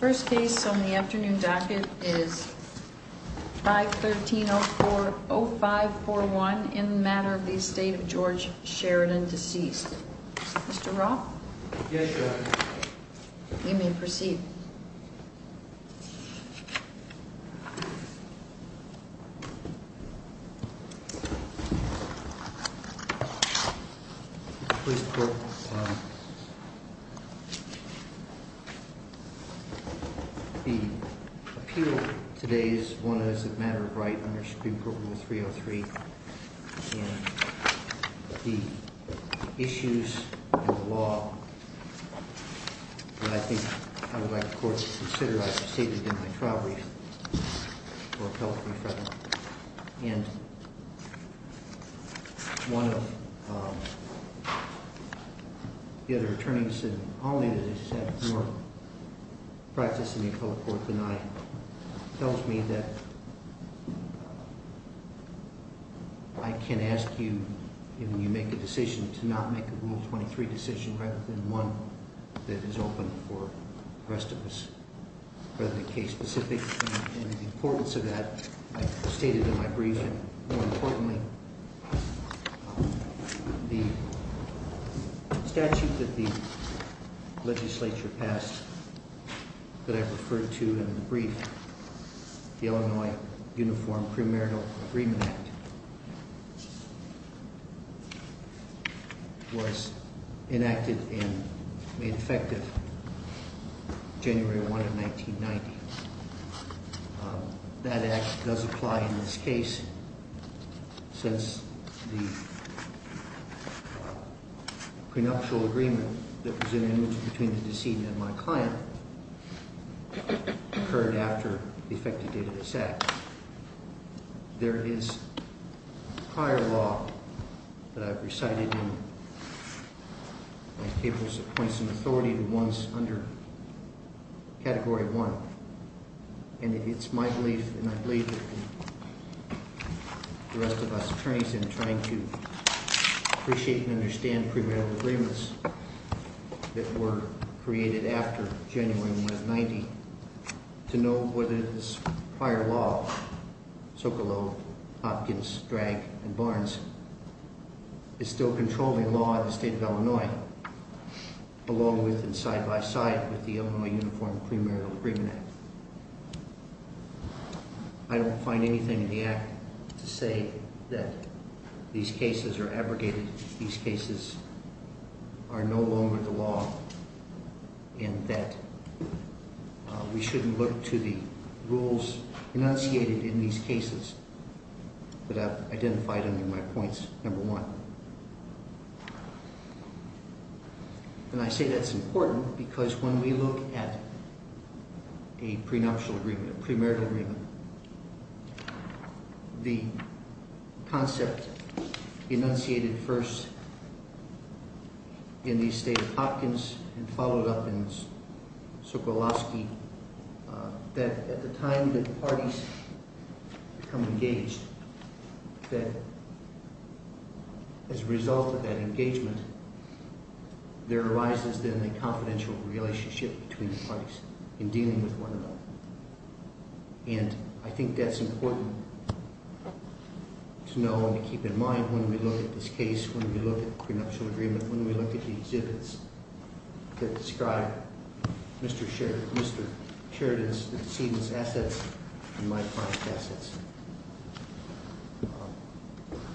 First case on the afternoon docket is 513-04-0541 in the matter of the estate of George Sheridan deceased. Mr. Roth? Yes, Your Honor. You may proceed. Please quote. The appeal today is one that is a matter of right under Supreme Court Rule 303, and the issues of the law that I think I would like the court to consider. I've stated in my trial reading for appellate referendum, and one of the other attorneys in the case has had more practice in the appellate court than I, tells me that I can ask you, if you make a decision, to not make a Rule 23 decision rather than one that is open for the rest of us. Rather than case specific, and the importance of that, I've stated in my brief, and more importantly, the statute that the legislature passed that I referred to in the brief, the Illinois Uniform Premarital Agreement Act, was enacted and made effective January 1 of 1990. That Act does apply in this case since the prenuptial agreement that was in place after the effective date of this Act. There is higher law that I've recited in my tables of points of authority than ones under Category 1, and it's my belief, and I believe the rest of us attorneys in trying to appreciate and understand premarital agreements that were created after January 1 of 1990, to know whether this prior law, Sokolow, Hopkins, Dragg, and Barnes, is still controlling law in the state of Illinois, along with and side by side with the Illinois Uniform Premarital Agreement Act. I don't find anything in the Act to say that these cases are abrogated, these cases are no longer the law, and that we shouldn't look to the rules enunciated in these cases, but I've identified them in my points, number one. And I say that's important because when we look at a prenuptial agreement, a premarital agreement, the concept enunciated first in the state of Hopkins and followed up in Sokolowski, that at the time that parties become engaged, that as a result of that engagement, there arises then a confidential relationship between the parties in dealing with one another. And I think that's important to know and to keep in mind when we look at this case, when we look at the prenuptial agreement, when we look at the exhibits that describe Mr. Sheridan's, the decedent's assets and my client's assets.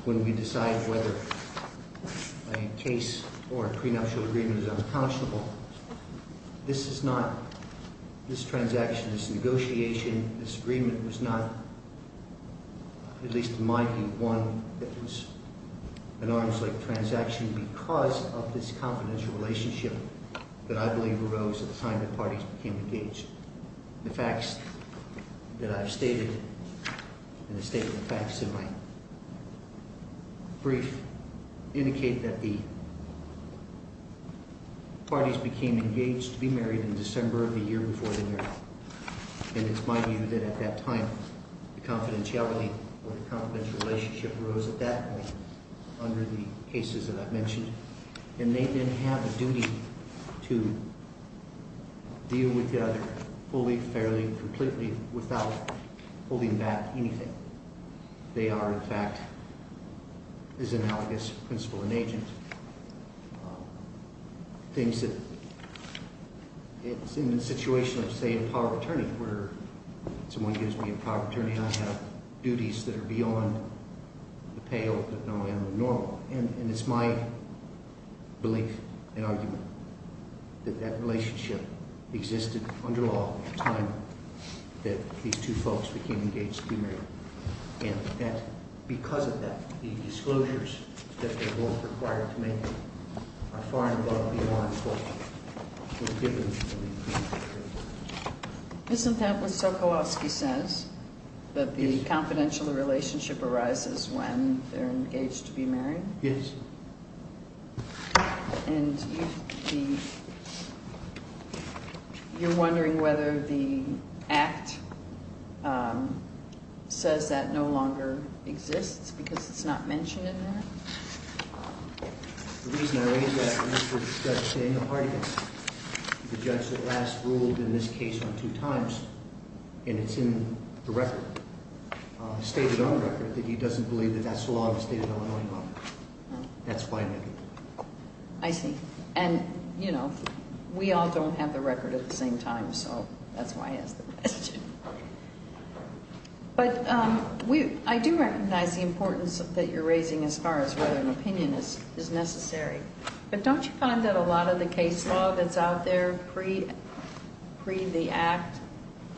When we decide whether a case or a prenuptial agreement is unconscionable, this is not, this transaction, this negotiation, this agreement was not, at least to my view, one that was an arms-length transaction because of this confidential relationship that I believe arose at the time that parties became engaged. The facts that I've stated and the state of the facts in my brief indicate that the parties became engaged to be married in December of the year before the marriage. And it's my view that at that time, the confidentiality or the confidential relationship arose at that point under the cases that I've mentioned. And they then have a duty to deal with the other fully, fairly, completely without holding back anything. They are, in fact, as analogous principal and agent, things that it's in the situation of, say, a power of attorney where someone gives me a power of attorney, I have duties that are beyond the payoff that normally I'm normal. And it's my belief and argument that that relationship existed under law at the time that these two folks became engaged to be married. And that, because of that, the disclosures that they're both required to make are far and above the alliance that was given to them. Isn't that what Sokolowski says? Yes. That the confidential relationship arises when they're engaged to be married? Yes. And you're wondering whether the act says that no longer exists because it's not mentioned in there? The reason I raise that is for Judge Daniel Hartigan, the judge that last ruled in this case on two times. And it's in the record, stated on the record, that he doesn't believe that that's the law of the state of Illinois law. That's why I make it. I see. And, you know, we all don't have the record at the same time, so that's why I asked the question. But I do recognize the importance that you're raising as far as whether an opinion is necessary. But don't you find that a lot of the case law that's out there pre the act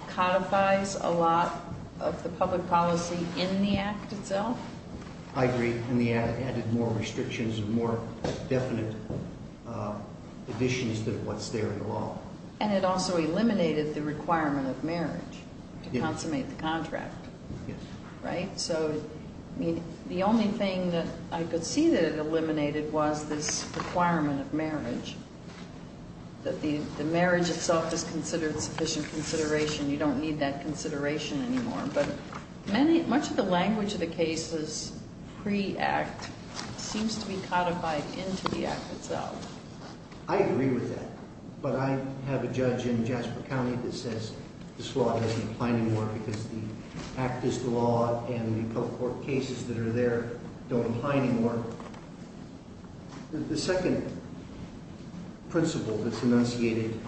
codifies a lot of the public policy in the act itself? I agree. And they added more restrictions and more definite additions to what's there in the law. And it also eliminated the requirement of marriage to consummate the contract. Yes. Right? So, I mean, the only thing that I could see that it eliminated was this requirement of marriage, that the marriage itself is considered sufficient consideration. You don't need that consideration anymore. But much of the language of the case is pre act seems to be codified into the act itself. I agree with that. But I have a judge in Jasper County that says this law doesn't apply anymore because the act is the law and the court cases that are there don't apply anymore. The second principle that's enunciated,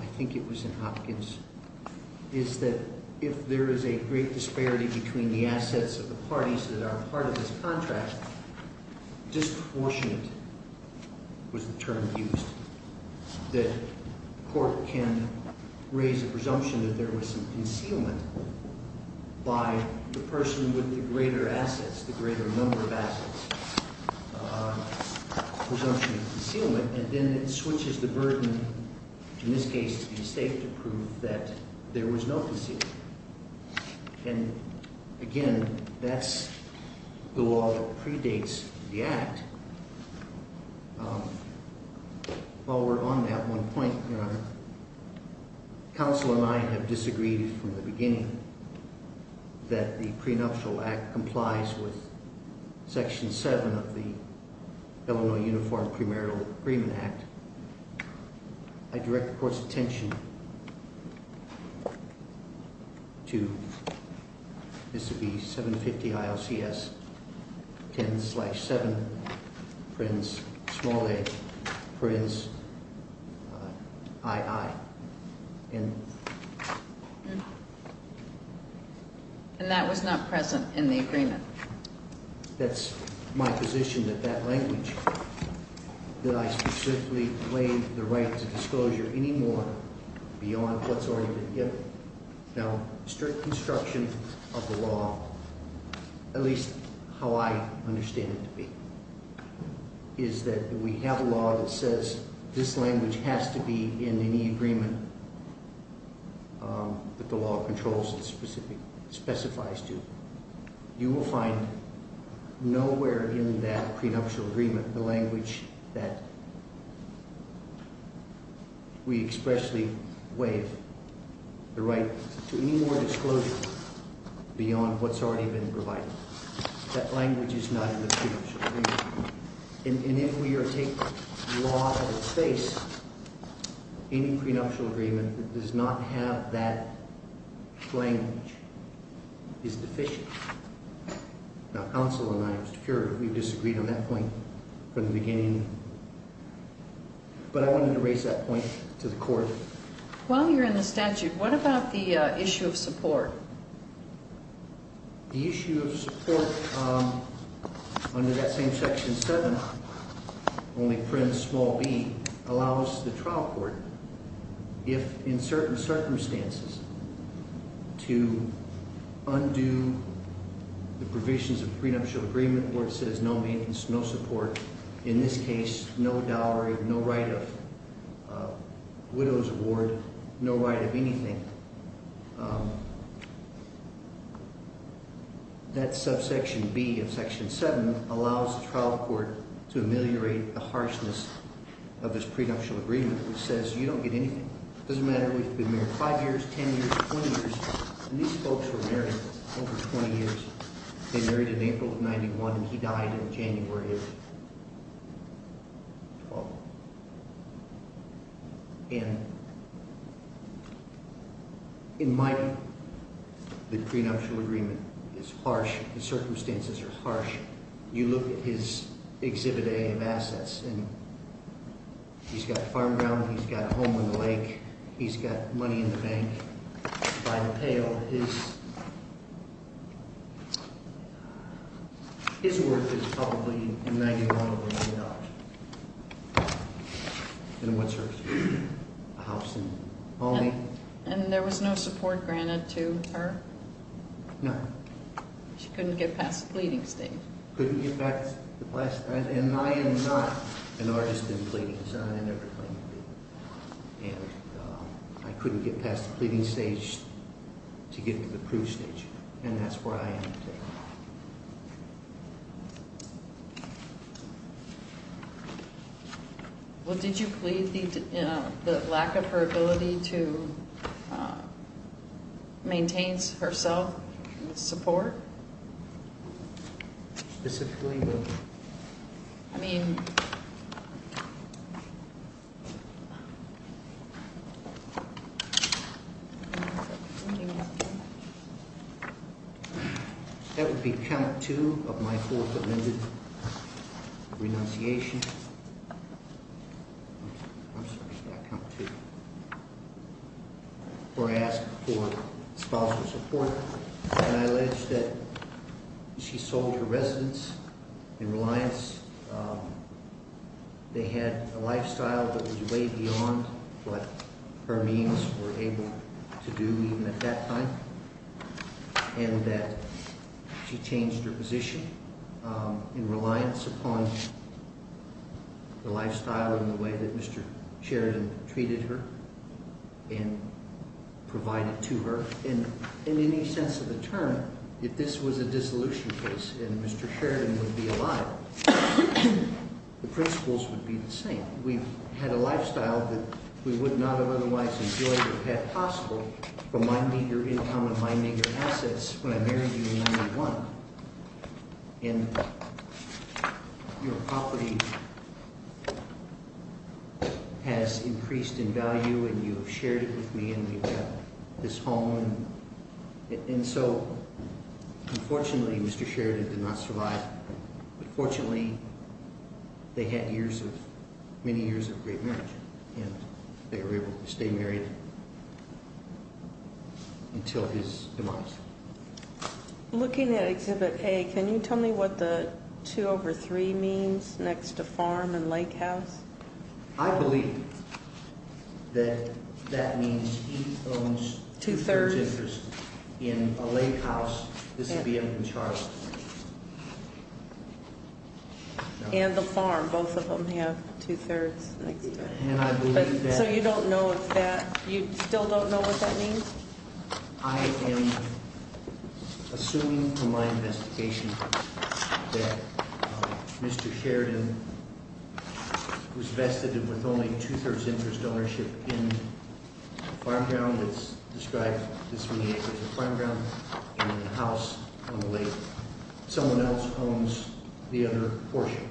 I think it was in Hopkins, is that if there is a great disparity between the assets of the parties that are part of this contract, disproportionate was the term used, that the court can raise a presumption that there was some concealment by the person with the greater assets, the greater number of assets, presumption of concealment, and then it switches the burden, in this case, to the estate to prove that there was no concealment. And, again, that's the law that predates the act. While we're on that one point, your honor, counsel and I have disagreed from the beginning that the prenuptial act complies with section seven of the Illinois Uniform Primarial Agreement Act. I direct the court's attention to, this would be 750 ILCS, 10 slash 7, prince, small a, prince II. And that was not present in the agreement. That's my position that that language, that I specifically claim the right to disclosure anymore beyond what's already been given. Now, strict construction of the law, at least how I understand it to be, is that we have a law that says this language has to be in any agreement that the law controls and specifies to. You will find nowhere in that prenuptial agreement the language that we expressly waive the right to any more disclosure beyond what's already been provided. That language is not in the prenuptial agreement. And if we are to take the law at its face, any prenuptial agreement that does not have that language is deficient. Now, counsel and I, I'm sure we've disagreed on that point from the beginning, but I wanted to raise that point to the court. While you're in the statute, what about the issue of support? The issue of support under that same section 7, only prince, small b, allows the trial court, if in certain circumstances, to undo the provisions of prenuptial agreement where it says no maintenance, no support. In this case, no dowry, no right of widow's award, no right of anything. That subsection b of section 7 allows the trial court to ameliorate the harshness of this prenuptial agreement which says you don't get anything. It doesn't matter if we've been married 5 years, 10 years, 20 years. And these folks were married over 20 years. They married in April of 91 and he died in January of 12. And in my view, the prenuptial agreement is harsh. The circumstances are harsh. You look at his exhibit A of assets and he's got farm ground, he's got a home in the lake, he's got money in the bank. By the pale, his worth is probably $91 million. And what's hers? A house in Albany. And there was no support granted to her? No. She couldn't get past the pleading stage. Couldn't get past the pleading stage. And I am not an artist in pleadings. I never claimed to be. And I couldn't get past the pleading stage to get to the proof stage. And that's where I am today. Well, did you plead the lack of her ability to maintain herself with support? Specifically? I mean. That would be count two of my full commitment of renunciation. Or ask for spousal support. And I allege that she sold her residence in reliance. They had a lifestyle that was way beyond what her means were able to do even at that time. And that she changed her position in reliance upon the lifestyle and the way that Mr. Sheridan treated her and provided to her. And in any sense of the term, if this was a dissolution case and Mr. Sheridan would be alive, the principles would be the same. We had a lifestyle that we would not have otherwise enjoyed or had possible from my meager income and my meager assets when I married you in 1991. And your property has increased in value and you have shared it with me and we've got this home. And so, unfortunately, Mr. Sheridan did not survive. But fortunately, they had many years of great marriage. And they were able to stay married until his demise. Looking at Exhibit A, can you tell me what the 2 over 3 means next to farm and lake house? I believe that that means he owns two-thirds interest in a lake house. This would be in the chart. And the farm, both of them have two-thirds next to it. So you don't know if that – you still don't know what that means? I am assuming from my investigation that Mr. Sheridan was vested with only two-thirds interest ownership in a farm ground. It's described as being a farm ground and a house on the lake. Someone else owns the other portion. Okay.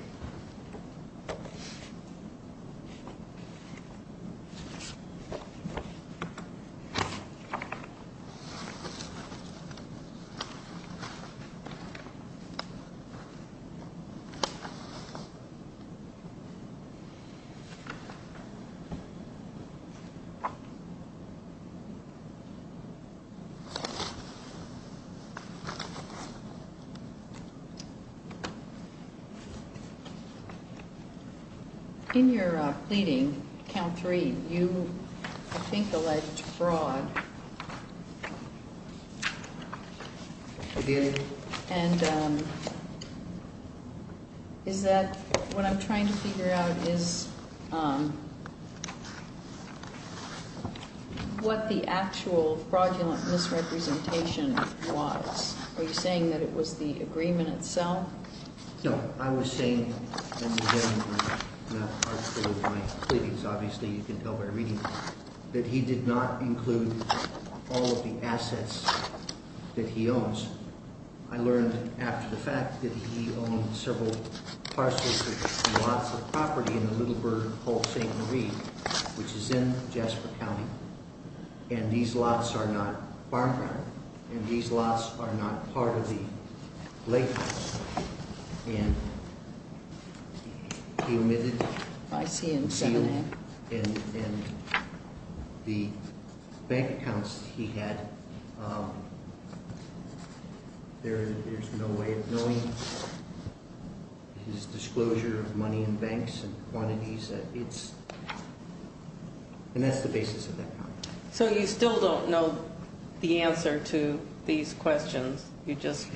In your pleading, Count 3, you, I think, alleged fraud. I did. And is that – what I'm trying to figure out is what the actual fraudulent misrepresentation was. Are you saying that it was the agreement itself? No. I was saying in the beginning of my pleadings, obviously you can tell by reading them, that he did not include all of the assets that he owns. I learned after the fact that he owns several parcels of lots of property in the Little Bird Hall, St. Marie, which is in Jasper County. And these lots are not farm ground. And these lots are not part of the lake house. And he omitted the seal and the bank accounts he had. There's no way of knowing his disclosure of money in banks and quantities. And that's the basis of that contract. So you still don't know the answer to these questions. You just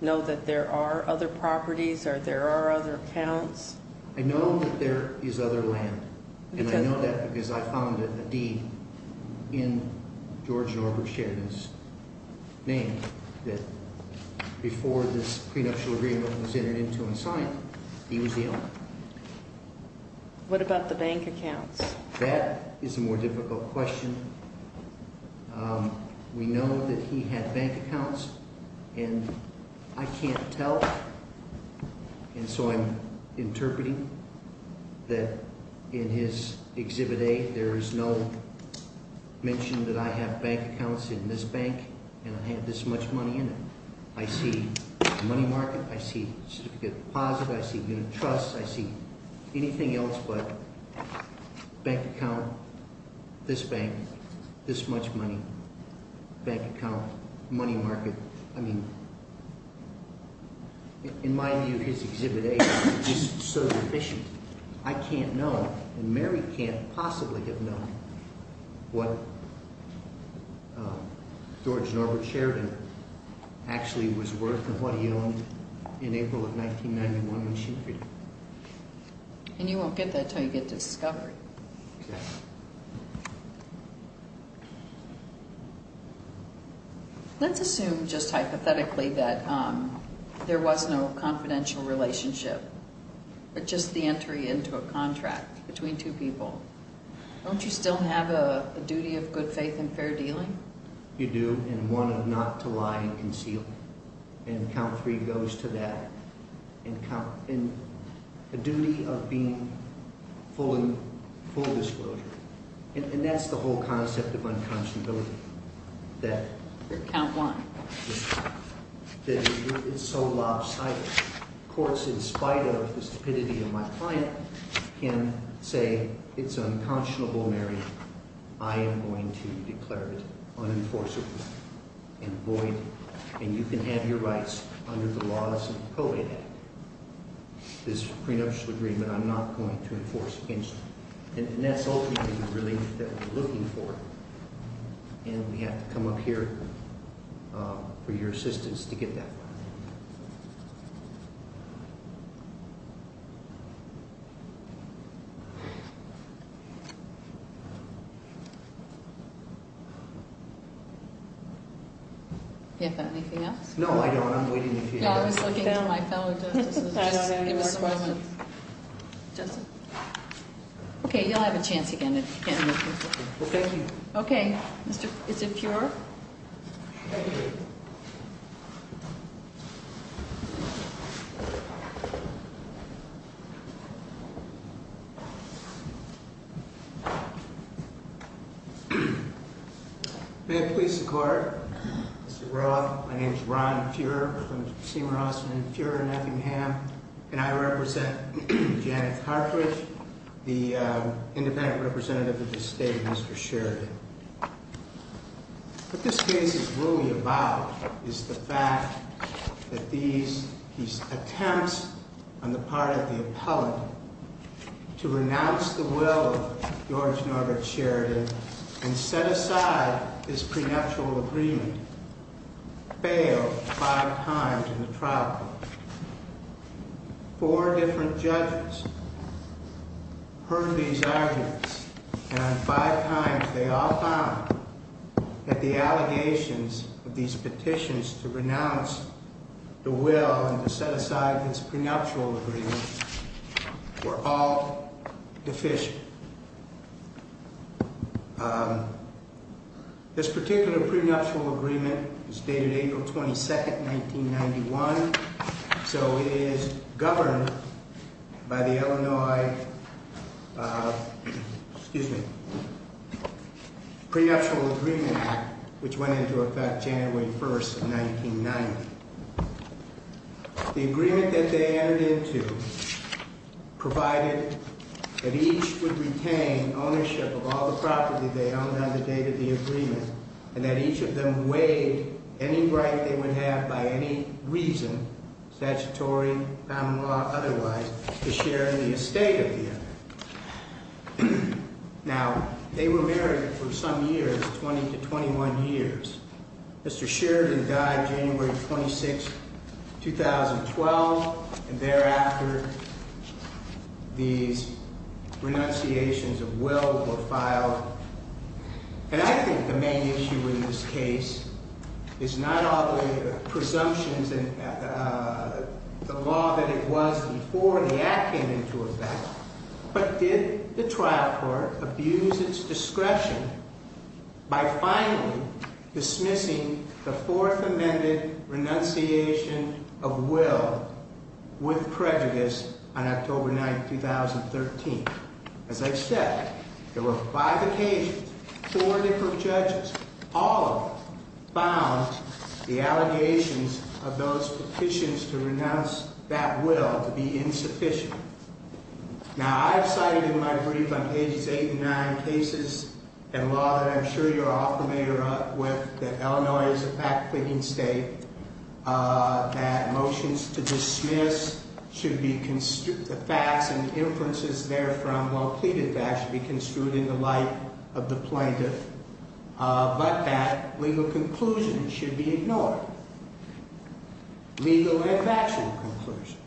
know that there are other properties or there are other accounts? I know that there is other land. And I know that because I found a deed in George Norbert Sheridan's name that before this prenuptial agreement was entered into and signed, he was the owner. What about the bank accounts? That is a more difficult question. We know that he had bank accounts. And I can't tell. And so I'm interpreting that in his Exhibit A, there is no mention that I have bank accounts in this bank and I have this much money in it. I see money market. I see certificate of deposit. I see unit trust. I see anything else but bank account, this bank, this much money, bank account, money market. I mean, in my view, his Exhibit A is so deficient. I can't know and Mary can't possibly have known what George Norbert Sheridan actually was worth and what he owned in April of 1991 when she freed him. And you won't get that until you get to discovery. Okay. Let's assume just hypothetically that there was no confidential relationship but just the entry into a contract between two people. Don't you still have a duty of good faith and fair dealing? You do and one of not to lie and conceal. And count three goes to that. And a duty of being full disclosure. And that's the whole concept of unconscionability, that it's so lopsided. Courts, in spite of the stupidity of my client, can say it's unconscionable, Mary. I am going to declare it unenforceable and void, and you can have your rights under the laws of probate act. This prenuptial agreement, I'm not going to enforce against you. And that's ultimately the relief that we're looking for. And we have to come up here for your assistance to get that. Do you have anything else? No, I don't. I'm waiting for you. Yeah, I was looking for my fellow justices. I don't have any more questions. Okay, you'll have a chance again if you can. Well, thank you. Okay. Mr. Is it pure? Thank you. May it please the court. Mr. Roth, my name is Ron Fuhrer from Seymour Austin and Fuhrer in Effingham. And I represent Janet Cartridge, the independent representative of the state, Mr. Sheridan. What this case is really about is the fact that these attempts on the part of the appellant to renounce the will of George Norbert Sheridan and set aside this prenuptial agreement failed five times in the trial court. Four different judges heard these arguments, and on five times they all found that the allegations of these petitions to renounce the will and to set aside this prenuptial agreement were all deficient. This particular prenuptial agreement was dated April 22nd, 1991. So it is governed by the Illinois prenuptial agreement, which went into effect January 1st of 1990. The agreement that they entered into provided that each would retain ownership of all the property they owned on the date of the agreement, and that each of them waived any right they would have by any reason, statutory, common law, otherwise, to share in the estate of the other. Now, they were married for some years, 20 to 21 years. Mr. Sheridan died January 26th, 2012, and thereafter these renunciations of will were filed. And I think the main issue in this case is not all the presumptions and the law that it was before the act came into effect, but did the trial court abuse its discretion by finally dismissing the fourth amended renunciation of will with prejudice on October 9th, 2013? As I said, there were five occasions, four different judges, all of them found the allegations of those petitions to renounce that will to be insufficient. Now, I've cited in my brief on pages eight and nine cases and law that I'm sure you're all familiar with, that Illinois is a fact-picking state, that motions to dismiss should be, the facts and inferences therefrom while pleaded back should be construed in the light of the plaintiff, but that legal conclusions should be ignored, legal and factual conclusions.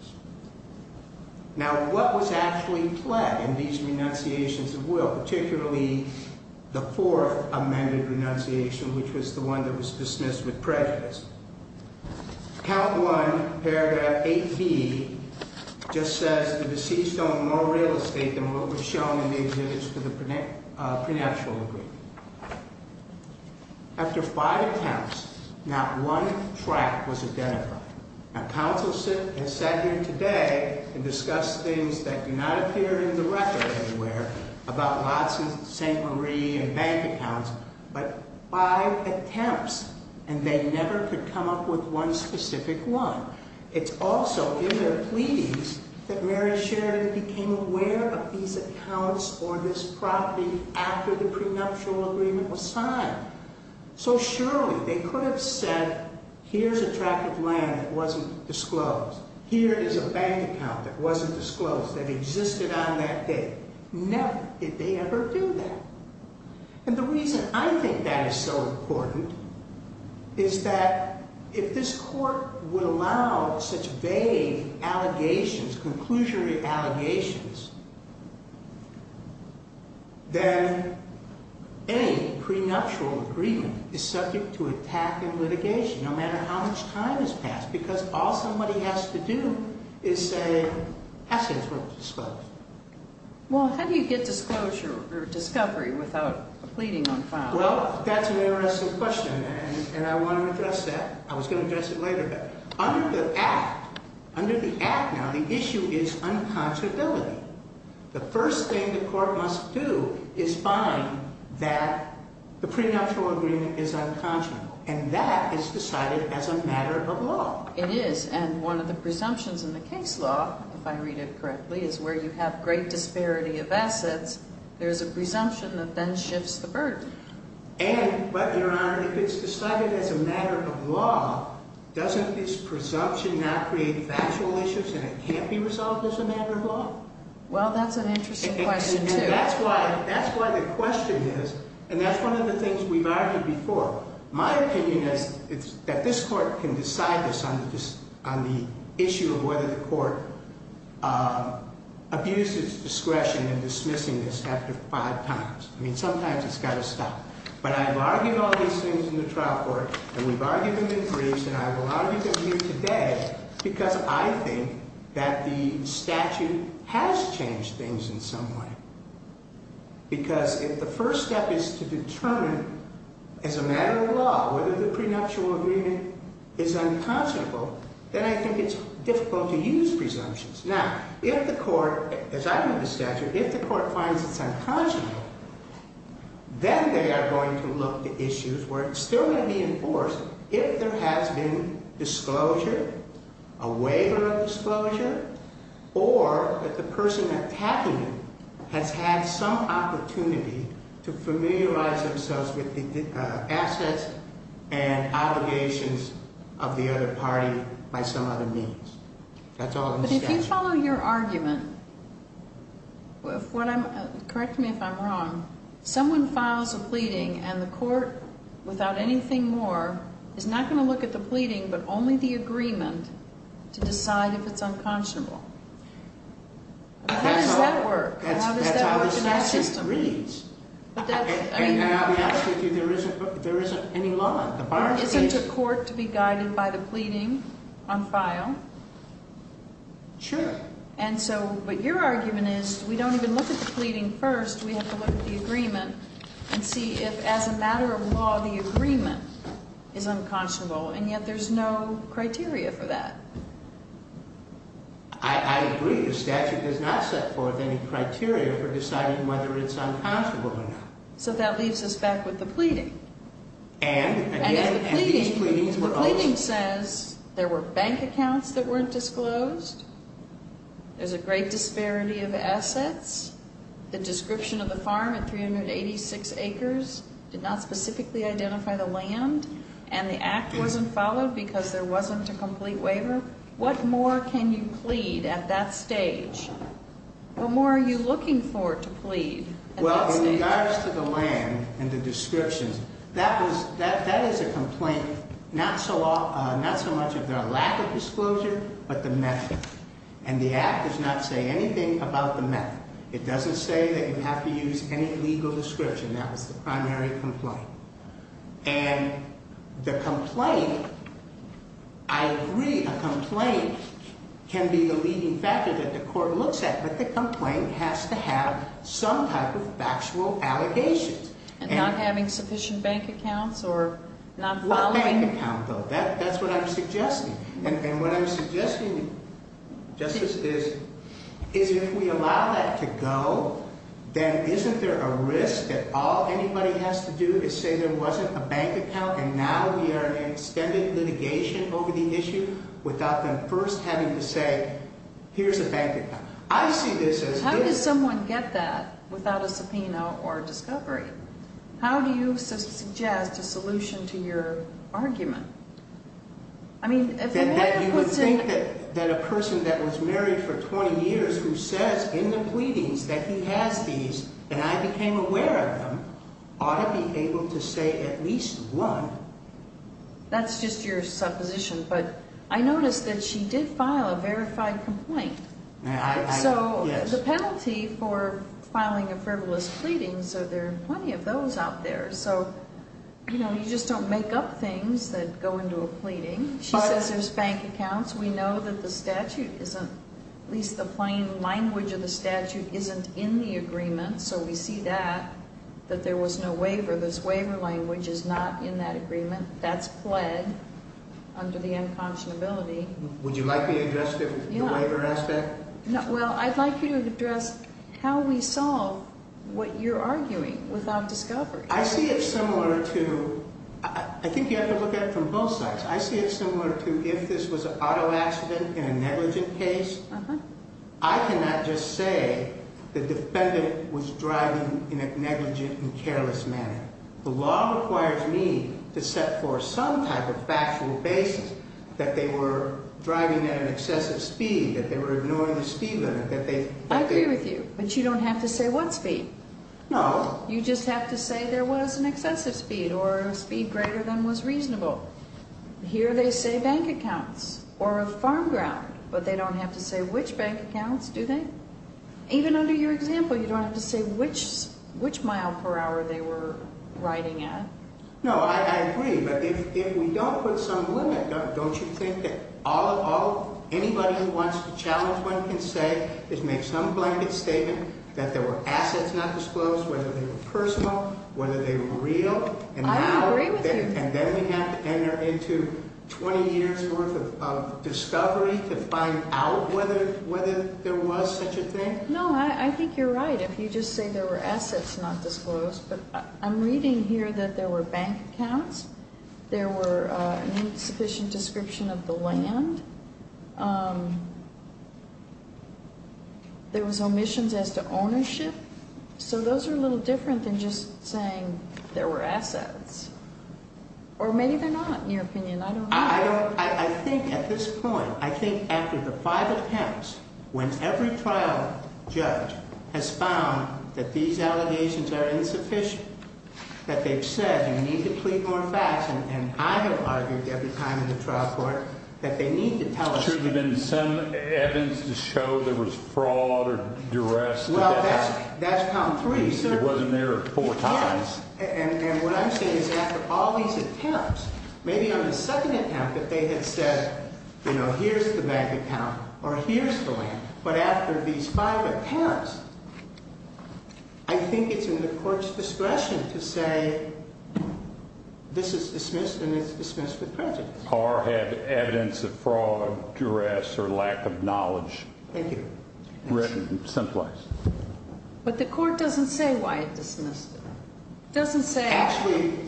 Now, what was actually pledged in these renunciations of will, particularly the fourth amended renunciation, which was the one that was dismissed with prejudice? Count one, paragraph 8B, just says, the deceased owned more real estate than what was shown in the exhibits to the prenuptial agreement. After five attempts, not one track was identified. Now, counsel has sat here today and discussed things that do not appear in the record anywhere about Watson, St. Marie, and bank accounts, but five attempts, and they never could come up with one specific one. It's also in their pleadings that Mary Sheridan became aware of these accounts or this property after the prenuptial agreement was signed. So surely they could have said, here's a track of land that wasn't disclosed. Here is a bank account that wasn't disclosed, that existed on that day. Never did they ever do that. And the reason I think that is so important is that if this court would allow such vague allegations, conclusionary allegations, then any prenuptial agreement is subject to attack and litigation, no matter how much time has passed, because all somebody has to do is say, actually, it's not disclosed. Well, how do you get disclosure or discovery without a pleading on file? Well, that's an interesting question, and I want to address that. I was going to address it later, but under the Act, under the Act now, the issue is unconscionability. The first thing the court must do is find that the prenuptial agreement is unconscionable, and that is decided as a matter of law. It is, and one of the presumptions in the case law, if I read it correctly, is where you have great disparity of assets, there is a presumption that then shifts the burden. And, but, Your Honor, if it's decided as a matter of law, doesn't this presumption not create factual issues and it can't be resolved as a matter of law? Well, that's an interesting question, too. That's why the question is, and that's one of the things we've argued before, my opinion is that this court can decide this on the issue of whether the court abuses discretion in dismissing this after five times. I mean, sometimes it's got to stop. But I've argued all these things in the trial court, and we've argued them in briefs, and I've argued them here today because I think that the statute has changed things in some way. Because if the first step is to determine as a matter of law whether the prenuptial agreement is unconscionable, then I think it's difficult to use presumptions. Now, if the court, as I read the statute, if the court finds it's unconscionable, then they are going to look to issues where it's still going to be enforced if there has been disclosure, a waiver of disclosure, or that the person attacking it has had some opportunity to familiarize themselves with the assets and obligations of the other party by some other means. That's all in the statute. But if you follow your argument, correct me if I'm wrong, someone files a pleading and the court, without anything more, is not going to look at the pleading but only the agreement to decide if it's unconscionable. How does that work? How does that work in our system? That's how the statute reads. I mean, I'm asking if there isn't any law. There isn't a court to be guided by the pleading on file. Sure. And so what your argument is, we don't even look at the pleading first. We have to look at the agreement and see if, as a matter of law, the agreement is unconscionable, and yet there's no criteria for that. I agree. The statute does not set forth any criteria for deciding whether it's unconscionable or not. So that leaves us back with the pleading. And, again, these pleadings were also. The pleading says there were bank accounts that weren't disclosed, there's a great disparity of assets, the description of the farm at 386 acres did not specifically identify the land, and the act wasn't followed because there wasn't a complete waiver. What more can you plead at that stage? Well, in regards to the land and the descriptions, that is a complaint, not so much of their lack of disclosure, but the method. And the act does not say anything about the method. It doesn't say that you have to use any legal description. That was the primary complaint. And the complaint, I agree, a complaint can be a leading factor that the court looks at, but the complaint has to have some type of factual allegations. And not having sufficient bank accounts or not following. What bank account, though? That's what I'm suggesting. And what I'm suggesting, Justice, is if we allow that to go, then isn't there a risk that all anybody has to do is say there wasn't a bank account and now we are in extended litigation over the issue without them first having to say, okay, here's a bank account. How does someone get that without a subpoena or discovery? How do you suggest a solution to your argument? You would think that a person that was married for 20 years who says in the pleadings that he has these and I became aware of them ought to be able to say at least one. That's just your supposition. But I noticed that she did file a verified complaint. So the penalty for filing a frivolous pleading, so there are plenty of those out there. So you just don't make up things that go into a pleading. She says there's bank accounts. We know that the statute isn't, at least the plain language of the statute, isn't in the agreement. So we see that, that there was no waiver. This waiver language is not in that agreement. That's pled under the unconscionability. Would you like me to address the waiver aspect? Well, I'd like you to address how we solve what you're arguing without discovery. I see it similar to, I think you have to look at it from both sides. I see it similar to if this was an auto accident in a negligent case, I cannot just say the defendant was driving in a negligent and careless manner. The law requires me to set forth some type of factual basis that they were driving at an excessive speed, that they were ignoring the speed limit. I agree with you, but you don't have to say what speed. No. You just have to say there was an excessive speed or a speed greater than was reasonable. Here they say bank accounts or a farm ground, but they don't have to say which bank accounts, do they? Even under your example, you don't have to say which mile per hour they were riding at. No, I agree, but if we don't put some limit, don't you think that anybody who wants to challenge one can say, just make some blanket statement that there were assets not disclosed, whether they were personal, whether they were real. I agree with you. And then we have to enter into 20 years worth of discovery to find out whether there was such a thing? No, I think you're right. If you just say there were assets not disclosed, but I'm reading here that there were bank accounts, there were insufficient description of the land, there was omissions as to ownership. So those are a little different than just saying there were assets. Or maybe they're not, in your opinion. I don't know. I think at this point, I think after the five attempts, when every trial judge has found that these allegations are insufficient, that they've said you need to plead more facts, and I have argued every time in the trial court that they need to tell us the truth. There should have been some evidence to show there was fraud or duress. Well, that's pound three. It wasn't there four times. And what I'm saying is after all these attempts, maybe on the second attempt that they had said, you know, here's the bank account or here's the land, but after these five attempts, I think it's in the court's discretion to say this is dismissed and it's dismissed with prejudice. Or have evidence of fraud, duress, or lack of knowledge. Thank you. Written someplace. But the court doesn't say why it dismissed it. It doesn't say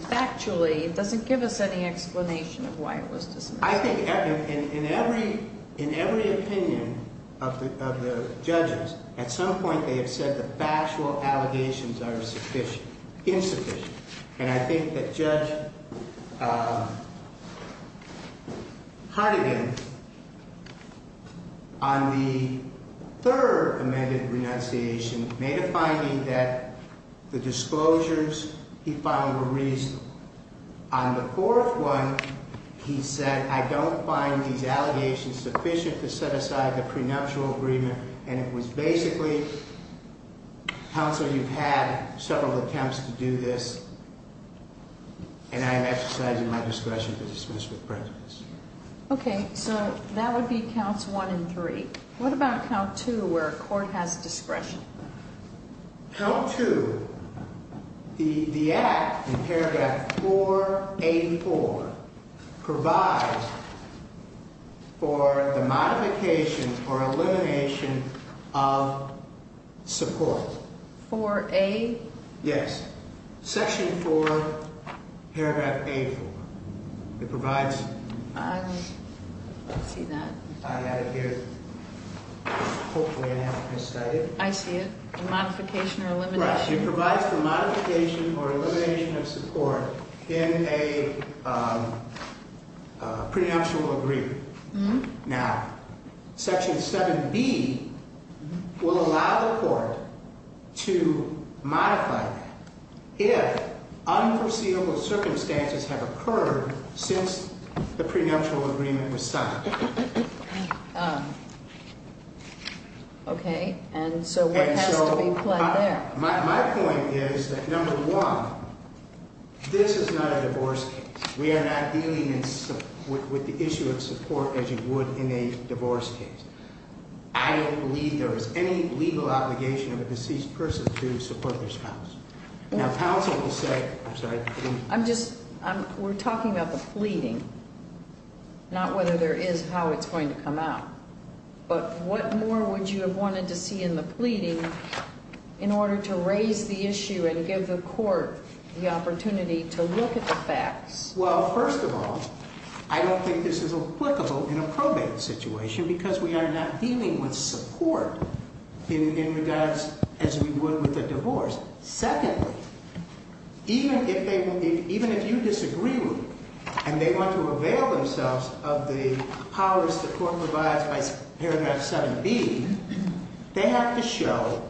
factually. It doesn't give us any explanation of why it was dismissed. I think in every opinion of the judges, at some point they have said the factual allegations are insufficient. And I think that Judge Hartigan, on the third amended renunciation, made a finding that the disclosures he found were reasonable. On the fourth one, he said, I don't find these allegations sufficient to set aside the prenuptial agreement. And it was basically, counsel, you've had several attempts to do this. And I am exercising my discretion to dismiss with prejudice. Okay. So that would be counts one and three. What about count two where a court has discretion? Count two. The act in paragraph 4A4 provides for the modification or elimination of support. 4A? Yes. Section 4, paragraph A4. It provides- I see that. I had it here, hopefully I haven't misstudied it. I see it. Modification or elimination. Right. It provides for modification or elimination of support in a prenuptial agreement. Now, section 7B will allow the court to modify that if unforeseeable circumstances have occurred since the prenuptial agreement was signed. Okay. And so what has to be- My point is that, number one, this is not a divorce case. We are not dealing with the issue of support as you would in a divorce case. I don't believe there is any legal obligation of a deceased person to support their spouse. Now, counsel will say- I'm sorry. We're talking about the pleading, not whether there is how it's going to come out. But what more would you have wanted to see in the pleading in order to raise the issue and give the court the opportunity to look at the facts? Well, first of all, I don't think this is applicable in a probate situation because we are not dealing with support in regards as we would with a divorce. Secondly, even if you disagree with it and they want to avail themselves of the powers the court provides by paragraph 7B, they have to show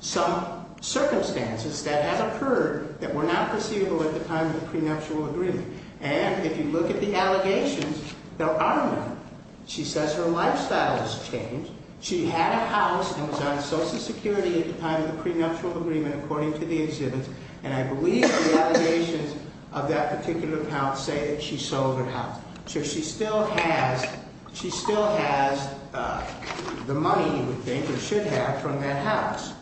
some circumstances that have occurred that were not foreseeable at the time of the prenuptial agreement. And if you look at the allegations, there are none. She says her lifestyle has changed. She had a house and was on Social Security at the time of the prenuptial agreement, according to the exhibits. And I believe the allegations of that particular house say that she sold her house. So she still has the money, you would think, or should have, from that house.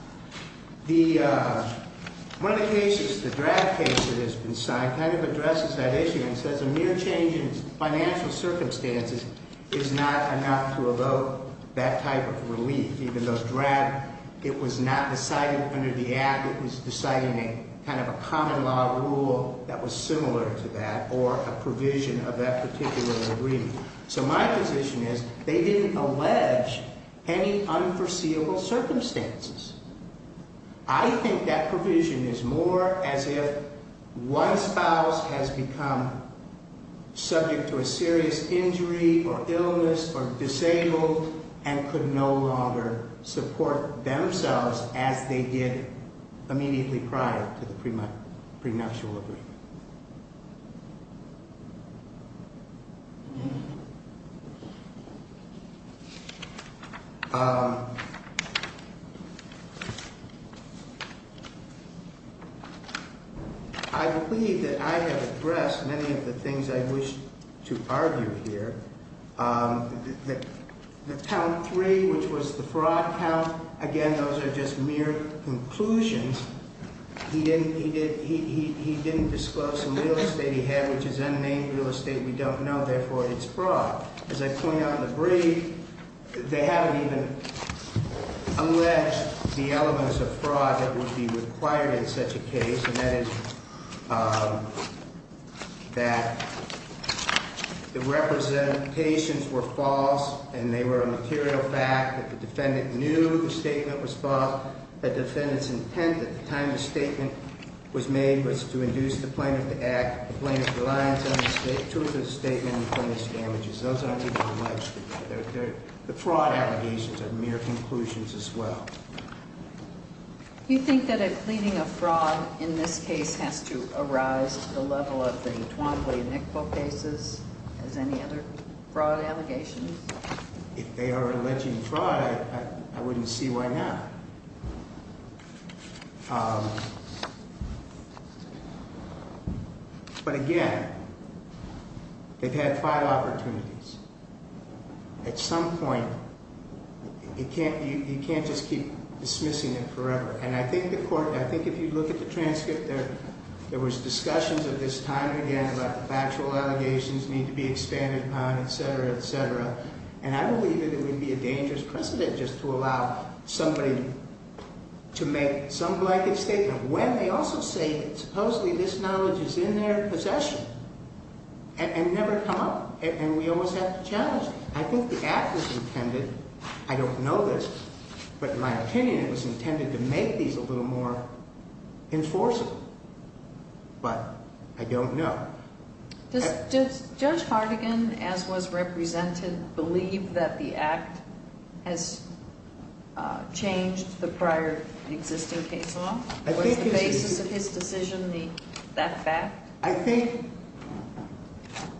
One of the cases, the DRAD case that has been signed, kind of addresses that issue and says a mere change in financial circumstances is not enough to evoke that type of relief, even though DRAD, it was not decided under the Act. It was decided in a kind of a common law rule that was similar to that or a provision of that particular agreement. So my position is they didn't allege any unforeseeable circumstances. I think that provision is more as if one spouse has become subject to a serious injury or illness or disabled and could no longer support themselves as they did immediately prior to the prenuptial agreement. I believe that I have addressed many of the things I wish to argue here. The count three, which was the fraud count, again, those are just mere conclusions. He didn't disclose some real estate he had, which is unnamed real estate. We don't know. Therefore, it's fraud. As I point out in the brief, they haven't even alleged the elements of fraud that would be required in such a case, and that is that the representations were false and they were a material fact. The defendant knew the statement was false. The defendant's intent at the time the statement was made was to induce the plaintiff to act, the plaintiff's reliance on the truth of the statement, and the plaintiff's damages. Those aren't even alleged. The fraud allegations are mere conclusions as well. Do you think that a pleading of fraud in this case has to arise at the level of the Twombly and Iqbo cases as any other fraud allegations? If they are alleging fraud, I wouldn't see why not. But again, they've had five opportunities. At some point, you can't just keep dismissing it forever. And I think if you look at the transcript, there was discussions of this time and again about the factual allegations need to be expanded upon, etc., etc. And I believe it would be a dangerous precedent just to allow somebody to make some blanket statement when they also say supposedly this knowledge is in their possession and never come up, and we always have to challenge it. I think the act was intended, I don't know this, but in my opinion, it was intended to make these a little more enforceable. But I don't know. Does Judge Hartigan, as was represented, believe that the act has changed the prior existing case law? Was the basis of his decision that fact? I think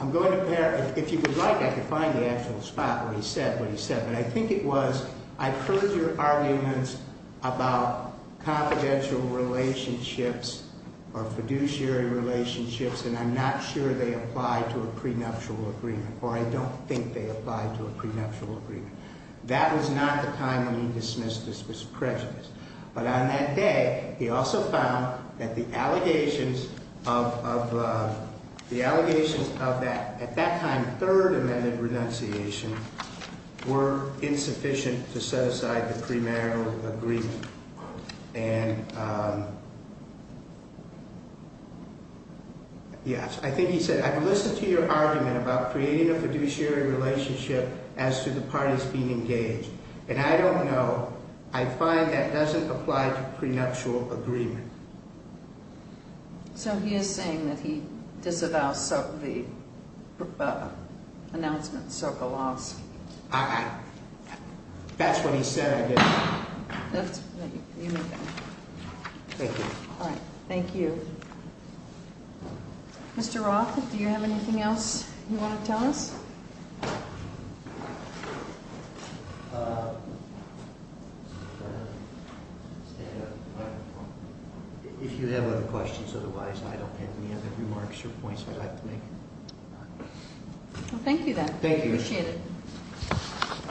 I'm going to pair. If you would like, I could find the actual spot where he said what he said. But I think it was, I've heard your arguments about confidential relationships or fiduciary relationships, and I'm not sure they apply to a prenuptial agreement. Or I don't think they apply to a prenuptial agreement. That was not the time when he dismissed this prejudice. But on that day, he also found that the allegations of that, at that time, third amendment renunciation were insufficient to set aside the premarital agreement. And yes, I think he said, I've listened to your argument about creating a fiduciary relationship as to the parties being engaged. And I don't know. I find that doesn't apply to prenuptial agreement. So he is saying that he disavows the announcement so belongs. That's what he said, I guess. Thank you. All right. Thank you. Mr. Roth, do you have anything else you want to tell us? If you have other questions, otherwise, I don't have any other remarks or points I'd like to make. Well, thank you, then. Thank you. Appreciate it.